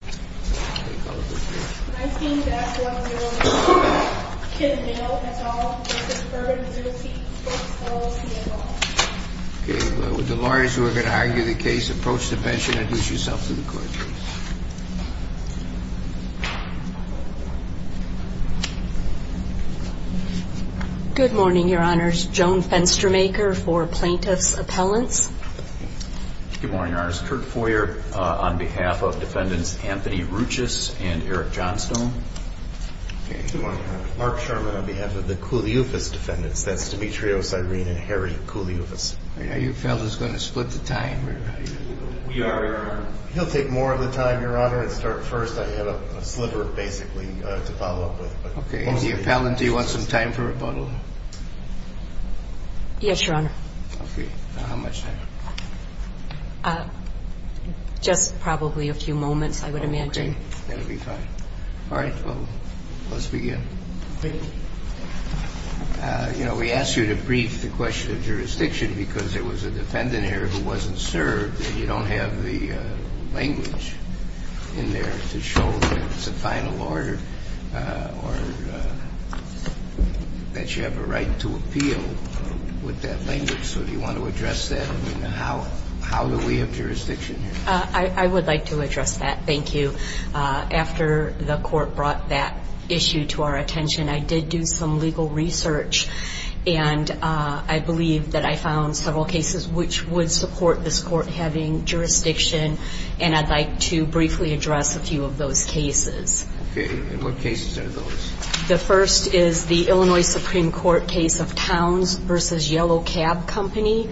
Good morning, Your Honors. Joan Fenstermaker for Plaintiff's Appellants. Good morning, Your Honors. Kurt Foyer on behalf of Defendants and Plaintiffs. Anthony Ruchis and Eric Johnstone. Mark Sherman on behalf of the Koulioufis Defendants. That's Dimitrios Irene and Harry Koulioufis. Are you fellows going to split the time? We are, Your Honor. He'll take more of the time, Your Honor, and start first. I have a sliver, basically, to follow up with. Okay. And the appellant, do you want some time for rebuttal? Yes, Your Honor. Okay. Now, how much time? Just probably a few moments, I would imagine. Okay. That would be fine. All right. Well, let's begin. Thank you. You know, we asked you to brief the question of jurisdiction because there was a defendant here who wasn't served, and you don't have the language in there to show that it's a final order or that you have a right to appeal with that language. So do you want to address that? I mean, how do we have jurisdiction here? I would like to address that. Thank you. After the court brought that issue to our attention, I did do some legal research, and I believe that I found several cases which would support this court having jurisdiction, and I'd like to briefly address a few of those cases. Okay. And what cases are those? The first is the Illinois Supreme Court case of Towns v. Yellow Cab Company,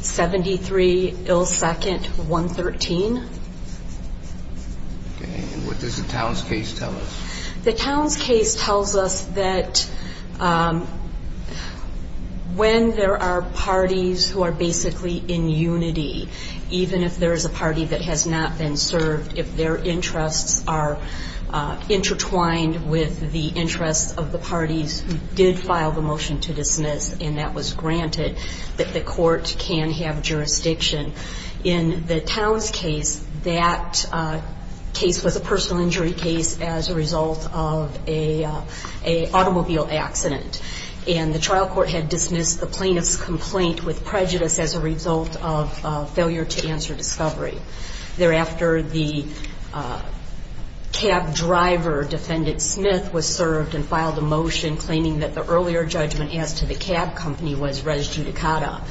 73 Ill 2nd, 113. Okay. And what does the Towns case tell us? The Towns case tells us that when there are parties who are basically in unity, even if there is a party that has not been served, if their interests are intertwined with the interests of the parties who did file the motion to dismiss, and that was granted, that the court can have jurisdiction. In the Towns case, that case was a personal injury case as a result of an automobile accident, and the trial court had dismissed the plaintiff's complaint with prejudice as a result of failure to answer discovery. Thereafter, the cab driver, defendant Smith, was served and filed a motion claiming that the earlier judgment as to the cab company was res judicata.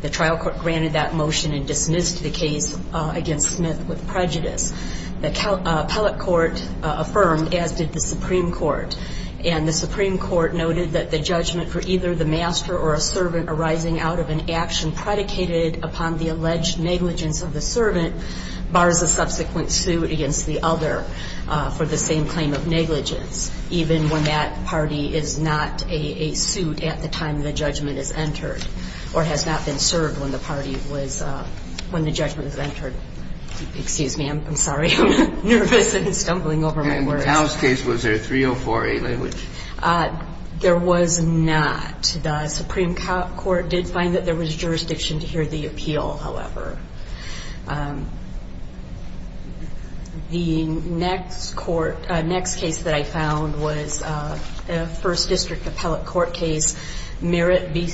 The trial court granted that motion and dismissed the case against Smith with prejudice. The appellate court affirmed, as did the Supreme Court, and the Supreme Court noted that the judgment for either the master or a servant arising out of an action predicated upon the alleged negligence of the servant bars a subsequent suit against the other for the same claim of negligence, even when that party is not a suit at the time the judgment is entered or has not been served when the party was – when the judgment was entered. Excuse me. I'm sorry. I'm nervous and stumbling over my words. In the Towns case, was there 304A language? There was not. The Supreme Court did find that there was jurisdiction to hear the appeal, however. The next court – next case that I found was a First District appellate court case, Merritt v.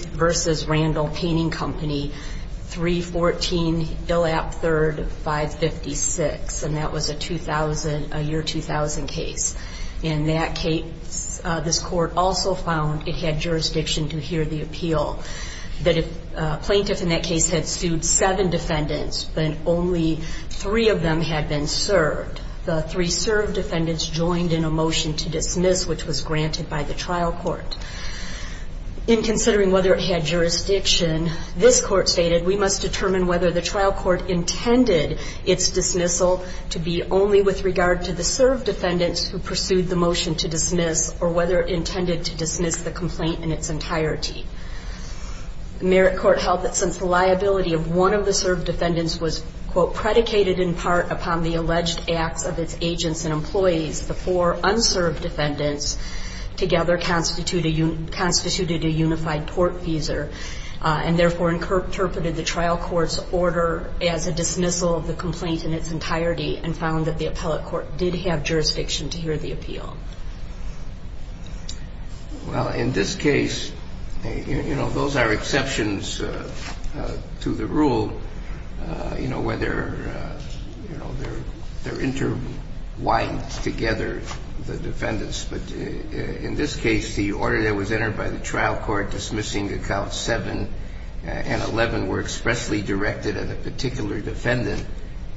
Randall Painting Company, 314 Illap 3rd, 556. And that was a 2000 – a year 2000 case. In that case, this court also found it had jurisdiction to hear the appeal, that a plaintiff in that case had sued seven defendants, but only three of them had been served. The three served defendants joined in a motion to dismiss, which was granted by the trial court. In considering whether it had jurisdiction, this court stated, we must determine whether the trial court intended its dismissal to be only with regard to the served defendants who pursued the motion to dismiss or whether it intended to dismiss the complaint in its entirety. Merritt court held that since the liability of one of the served defendants was, quote, predicated in part upon the alleged acts of its agents and employees, the four unserved defendants together constituted a unified court teaser and therefore interpreted the trial court's order as a dismissal of the complaint in its entirety and found that the appellate court did have jurisdiction to hear the appeal. Well, in this case, you know, those are exceptions to the rule, you know, whether, you know, they're interwined together, the defendants. But in this case, the order that was entered by the trial court dismissing accounts 7 and 11 were expressly directed at a particular defendant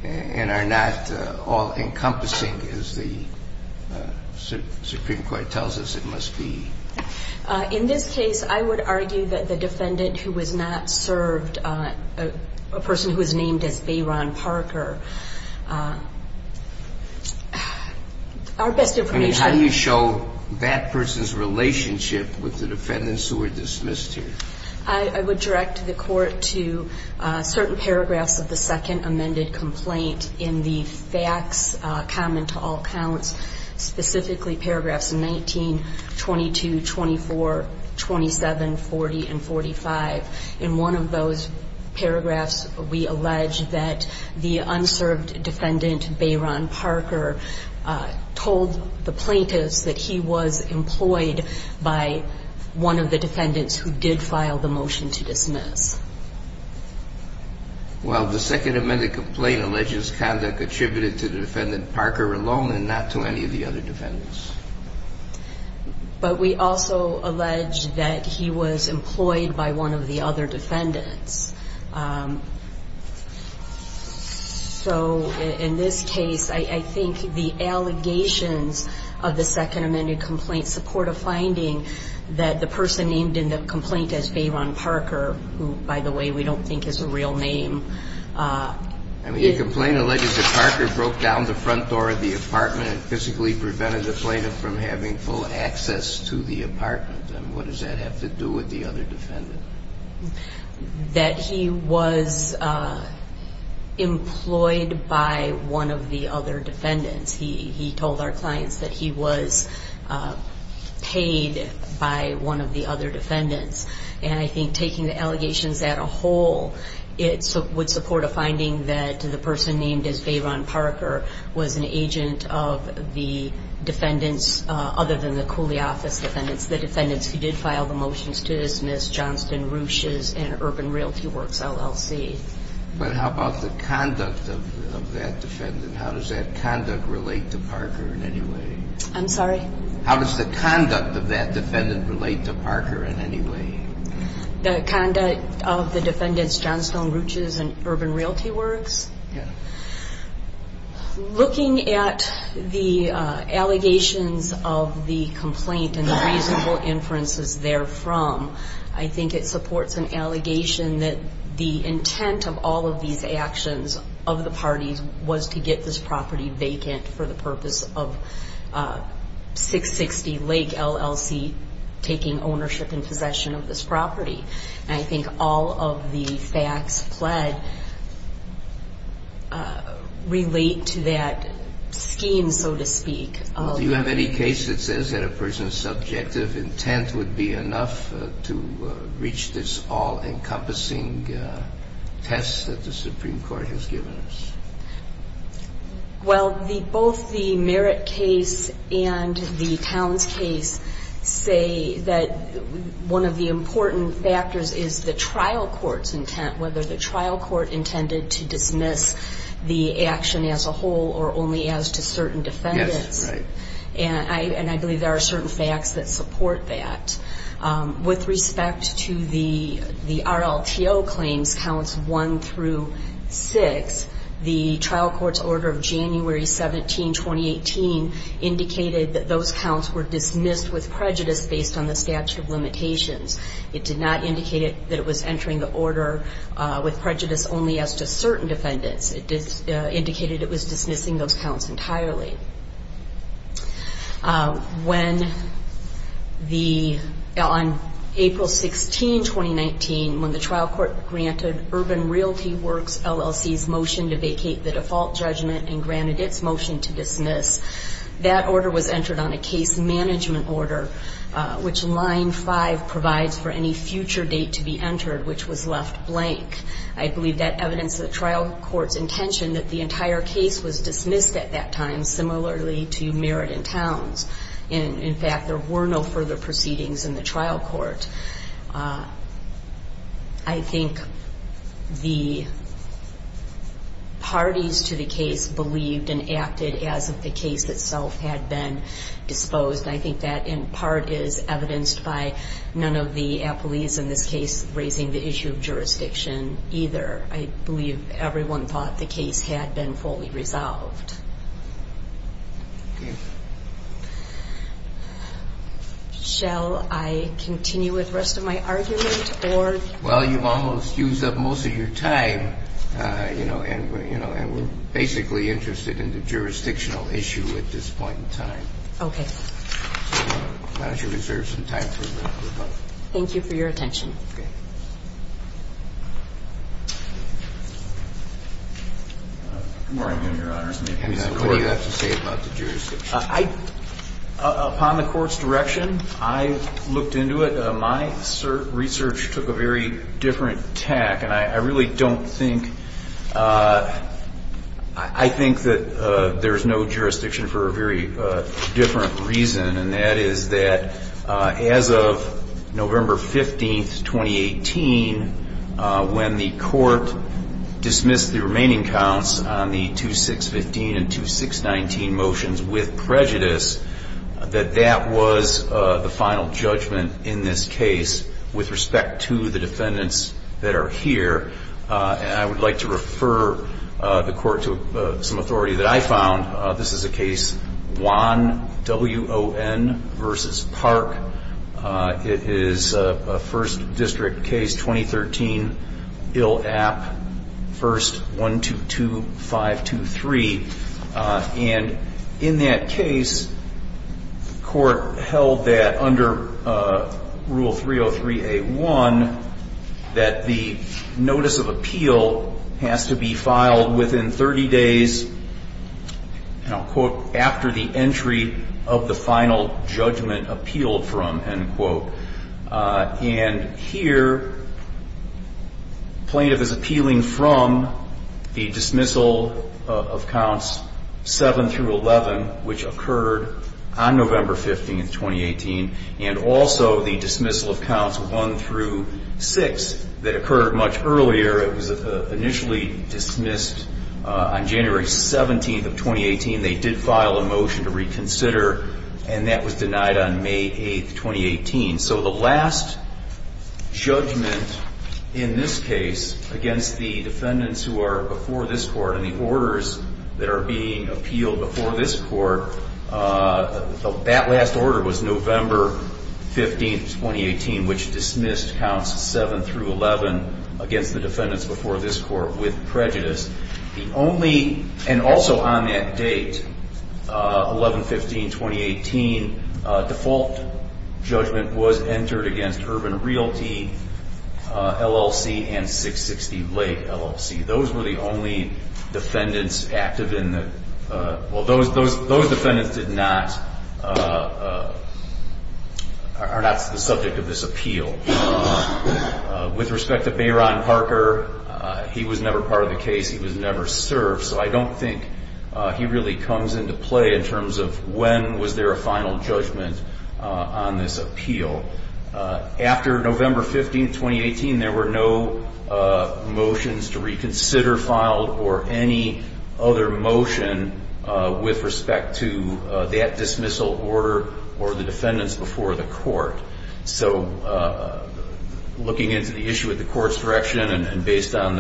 and are not all encompassing, as the Supreme Court tells us it must be. In this case, I would argue that the defendant who was not served, a person who was named as Bayron Parker, our best information. I mean, how do you show that person's relationship with the defendants who were dismissed here? I would direct the court to certain paragraphs of the second amended complaint in the facts common to all counts, specifically paragraphs 19, 22, 24, 27, 40, and 45. In one of those paragraphs, we allege that the unserved defendant, Bayron Parker, told the plaintiffs that he was employed by one of the defendants who did file the motion to dismiss. Well, the second amended complaint alleges conduct attributed to the defendant Parker alone and not to any of the other defendants. But we also allege that he was employed by one of the other defendants. So in this case, I think the allegations of the second amended complaint support a finding that the person named in the complaint as Bayron Parker, who, by the way, we don't think is a real name. I mean, the complaint alleges that Parker broke down the front door of the apartment and physically prevented the plaintiff from having full access to the apartment. And what does that have to do with the other defendant? That he was employed by one of the other defendants. He told our clients that he was paid by one of the other defendants. And I think taking the allegations as a whole, it would support a finding that the person named as Bayron Parker was an agent of the defendants other than the Cooley Office defendants, the defendants who did file the motions to dismiss Johnston, Ruches, and Urban Realty Works, LLC. But how about the conduct of that defendant? How does that conduct relate to Parker in any way? I'm sorry? How does the conduct of that defendant relate to Parker in any way? The conduct of the defendants Johnston, Ruches, and Urban Realty Works? Yeah. Looking at the allegations of the complaint and the reasonable inferences therefrom, I think it supports an allegation that the intent of all of these actions of the parties was to get this property vacant for the purpose of 660 Lake, LLC, taking ownership and possession of this property. And I think all of the facts pled relate to that scheme, so to speak. Do you have any case that says that a person's subjective intent would be enough to reach this all-encompassing test that the Supreme Court has given us? Well, both the Merritt case and the Towns case say that one of the important factors is the trial court's intent, whether the trial court intended to dismiss the action as a whole or only as to certain defendants. Yes, right. And I believe there are certain facts that support that. With respect to the RLTO claims, counts one through six, the trial court's order of January 17, 2018, indicated that those counts were dismissed with prejudice based on the statute of limitations. It did not indicate that it was entering the order with prejudice only as to certain defendants. It indicated it was dismissing those counts entirely. On April 16, 2019, when the trial court granted Urban Realty Works, LLC's motion to vacate the default judgment and granted its motion to dismiss, that order was entered on a case management order, which Line 5 provides for any future date to be entered, which was left blank. I believe that evidenced the trial court's intention that the entire case was dismissed at that time, similarly to Merritt and Towns. In fact, there were no further proceedings in the trial court. I think the parties to the case believed and acted as if the case itself had been disposed. I think that, in part, is evidenced by none of the appellees in this case raising the issue of jurisdiction either. I believe everyone thought the case had been fully resolved. Okay. Shall I continue with the rest of my argument, or? Well, you've almost used up most of your time, you know, and we're basically interested in the jurisdictional issue at this point in time. Okay. So why don't you reserve some time for rebuttal. Thank you for your attention. Okay. Good morning, Your Honors. What do you have to say about the jurisdiction? Upon the court's direction, I looked into it. My research took a very different tack, and I really don't think – I think that there's no jurisdiction for a very different reason, and that is that as of November 15, 2018, when the court dismissed the remaining counts on the 2615 and 2619 motions with prejudice, that that was the final judgment in this case with respect to the defendants that are here. And I would like to refer the court to some authority that I found. This is a case, Juan, W-O-N, versus Park. It is a First District case, 2013, ILAP, First 122523. And in that case, the court held that under Rule 303A1, that the notice of appeal has to be filed within 30 days, and I'll quote, after the entry of the final judgment appealed from, end quote. And here, plaintiff is appealing from the dismissal of counts 7 through 11, which occurred on November 15, 2018, and also the dismissal of counts 1 through 6 that occurred much earlier. It was initially dismissed on January 17, 2018. They did file a motion to reconsider, and that was denied on May 8, 2018. So the last judgment in this case against the defendants who are before this court and the orders that are being appealed before this court, that last order was November 15, 2018, which dismissed counts 7 through 11 against the defendants before this court with prejudice. The only, and also on that date, 11-15-2018, default judgment was entered against Urban Realty, LLC, and 660 Lake, LLC. Those were the only defendants active in the, well, those defendants did not, are not the subject of this appeal. With respect to Bayron Parker, he was never part of the case. He was never served. So I don't think he really comes into play in terms of when was there a final judgment on this appeal. After November 15, 2018, there were no motions to reconsider filed or any other motion with respect to that dismissal order or the defendants before the court. So looking into the issue at the court's direction and based on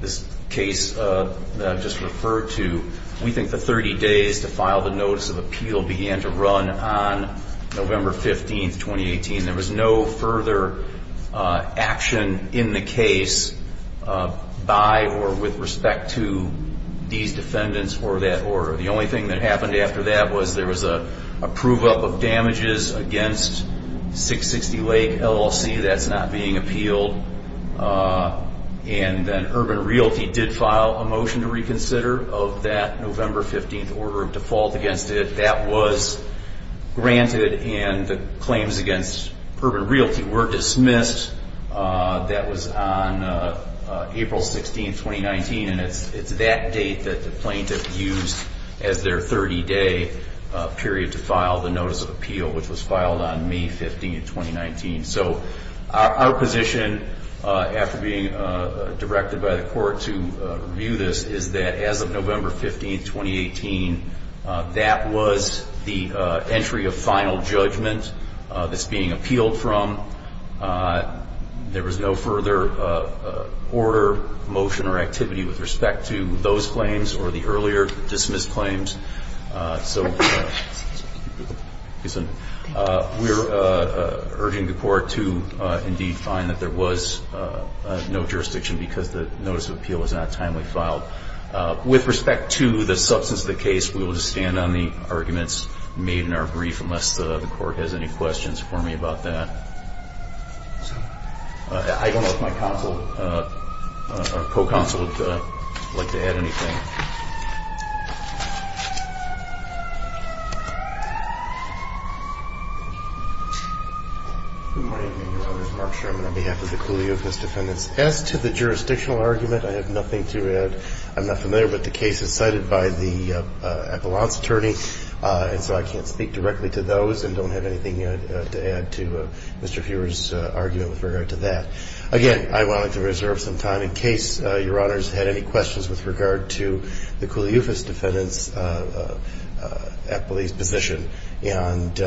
this case that I've just referred to, we think the 30 days to file the notice of appeal began to run on November 15, 2018. There was no further action in the case by or with respect to these defendants or that order. The only thing that happened after that was there was a prove-up of damages against 660 Lake, LLC. That's not being appealed. And then Urban Realty did file a motion to reconsider of that November 15 order of default against it. That was granted, and the claims against Urban Realty were dismissed. That was on April 16, 2019, and it's that date that the plaintiff used as their 30-day period to file the notice of appeal, which was filed on May 15, 2019. So our position, after being directed by the court to review this, is that as of November 15, 2018, that was the entry of final judgment that's being appealed from. There was no further order, motion, or activity with respect to those claims or the earlier dismissed claims. So we're urging the court to indeed find that there was no jurisdiction because the notice of appeal was not timely filed. With respect to the substance of the case, we will just stand on the arguments made in our brief unless the court has any questions for me about that. I don't know if my counsel or co-counsel would like to add anything. Good morning. My name is Mark Sherman on behalf of the Cooley Office of Defendants. As to the jurisdictional argument, I have nothing to add. I'm not familiar, but the case is cited by the appellant's attorney, and so I can't speak directly to those and don't have anything to add to Mr. Fuhrer's argument with regard to that. Again, I wanted to reserve some time in case Your Honors had any questions with regard to the Cooley Office of Defendants appellee's position, and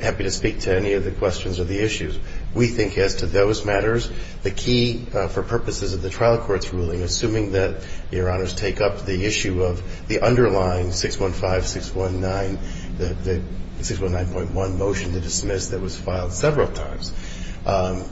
happy to speak to any of the questions or the issues. We think as to those matters, the key for purposes of the trial court's ruling, assuming that Your Honors take up the issue of the underlying 615-619, the 619.1 motion to dismiss that was filed several times,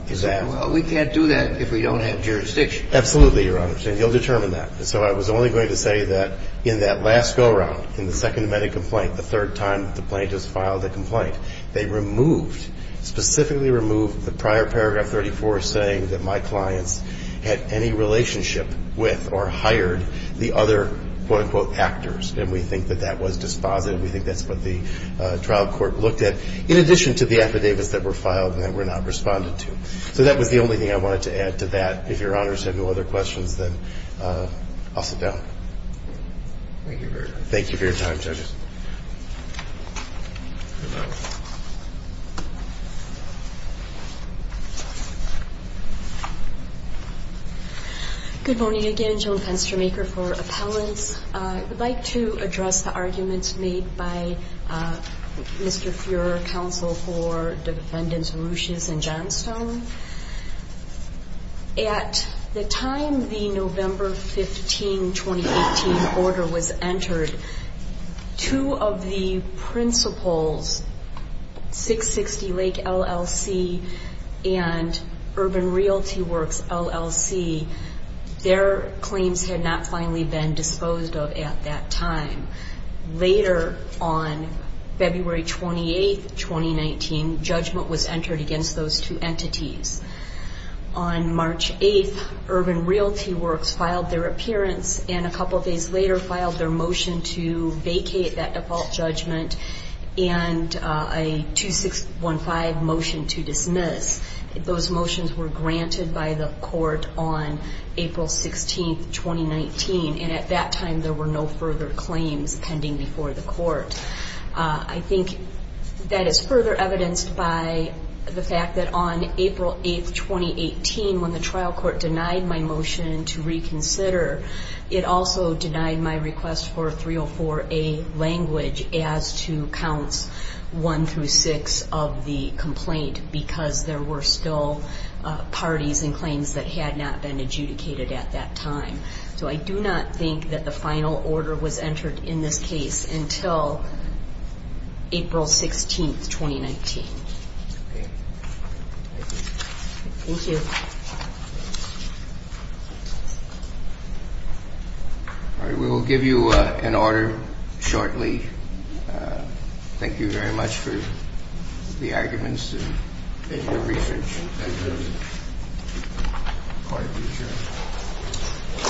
is that. Well, we can't do that if we don't have jurisdiction. Absolutely, Your Honors. And you'll determine that. So I was only going to say that in that last go-around, in the second amended complaint, the third time the plaintiff's filed a complaint, they removed, specifically removed the prior paragraph 34 saying that my clients had any relationship with or hired the other, quote, unquote, actors. And we think that that was dispositive. We think that's what the trial court looked at, in addition to the affidavits that were filed and that were not responded to. So that was the only thing I wanted to add to that. If Your Honors have no other questions, then I'll sit down. Thank you very much. Thank you for your time, judges. Good morning again. Joan Penstermaker for Appellants. I would like to address the arguments made by Mr. Fuhrer, Counsel for Defendants Ruches and Johnstone. At the time the November 15, 2018, order was entered, two of the principals, 660 Lake LLC and Urban Realty Works, LLC, their claims had not finally been disposed of at that time. Later on February 28, 2019, judgment was entered against those two entities. On March 8, Urban Realty Works filed their appearance and a couple of days later filed their motion to vacate that default judgment and a 2615 motion to dismiss. Those motions were granted by the court on April 16, 2019. And at that time there were no further claims pending before the court. I think that is further evidenced by the fact that on April 8, 2018, when the trial court denied my motion to reconsider, it also denied my request for 304A language as to counts one through six of the complaint because there were still parties and claims that had not been adjudicated at that time. So I do not think that the final order was entered in this case until April 16, 2019. Thank you. We will give you an order shortly. Thank you very much for the arguments and your research. Thank you.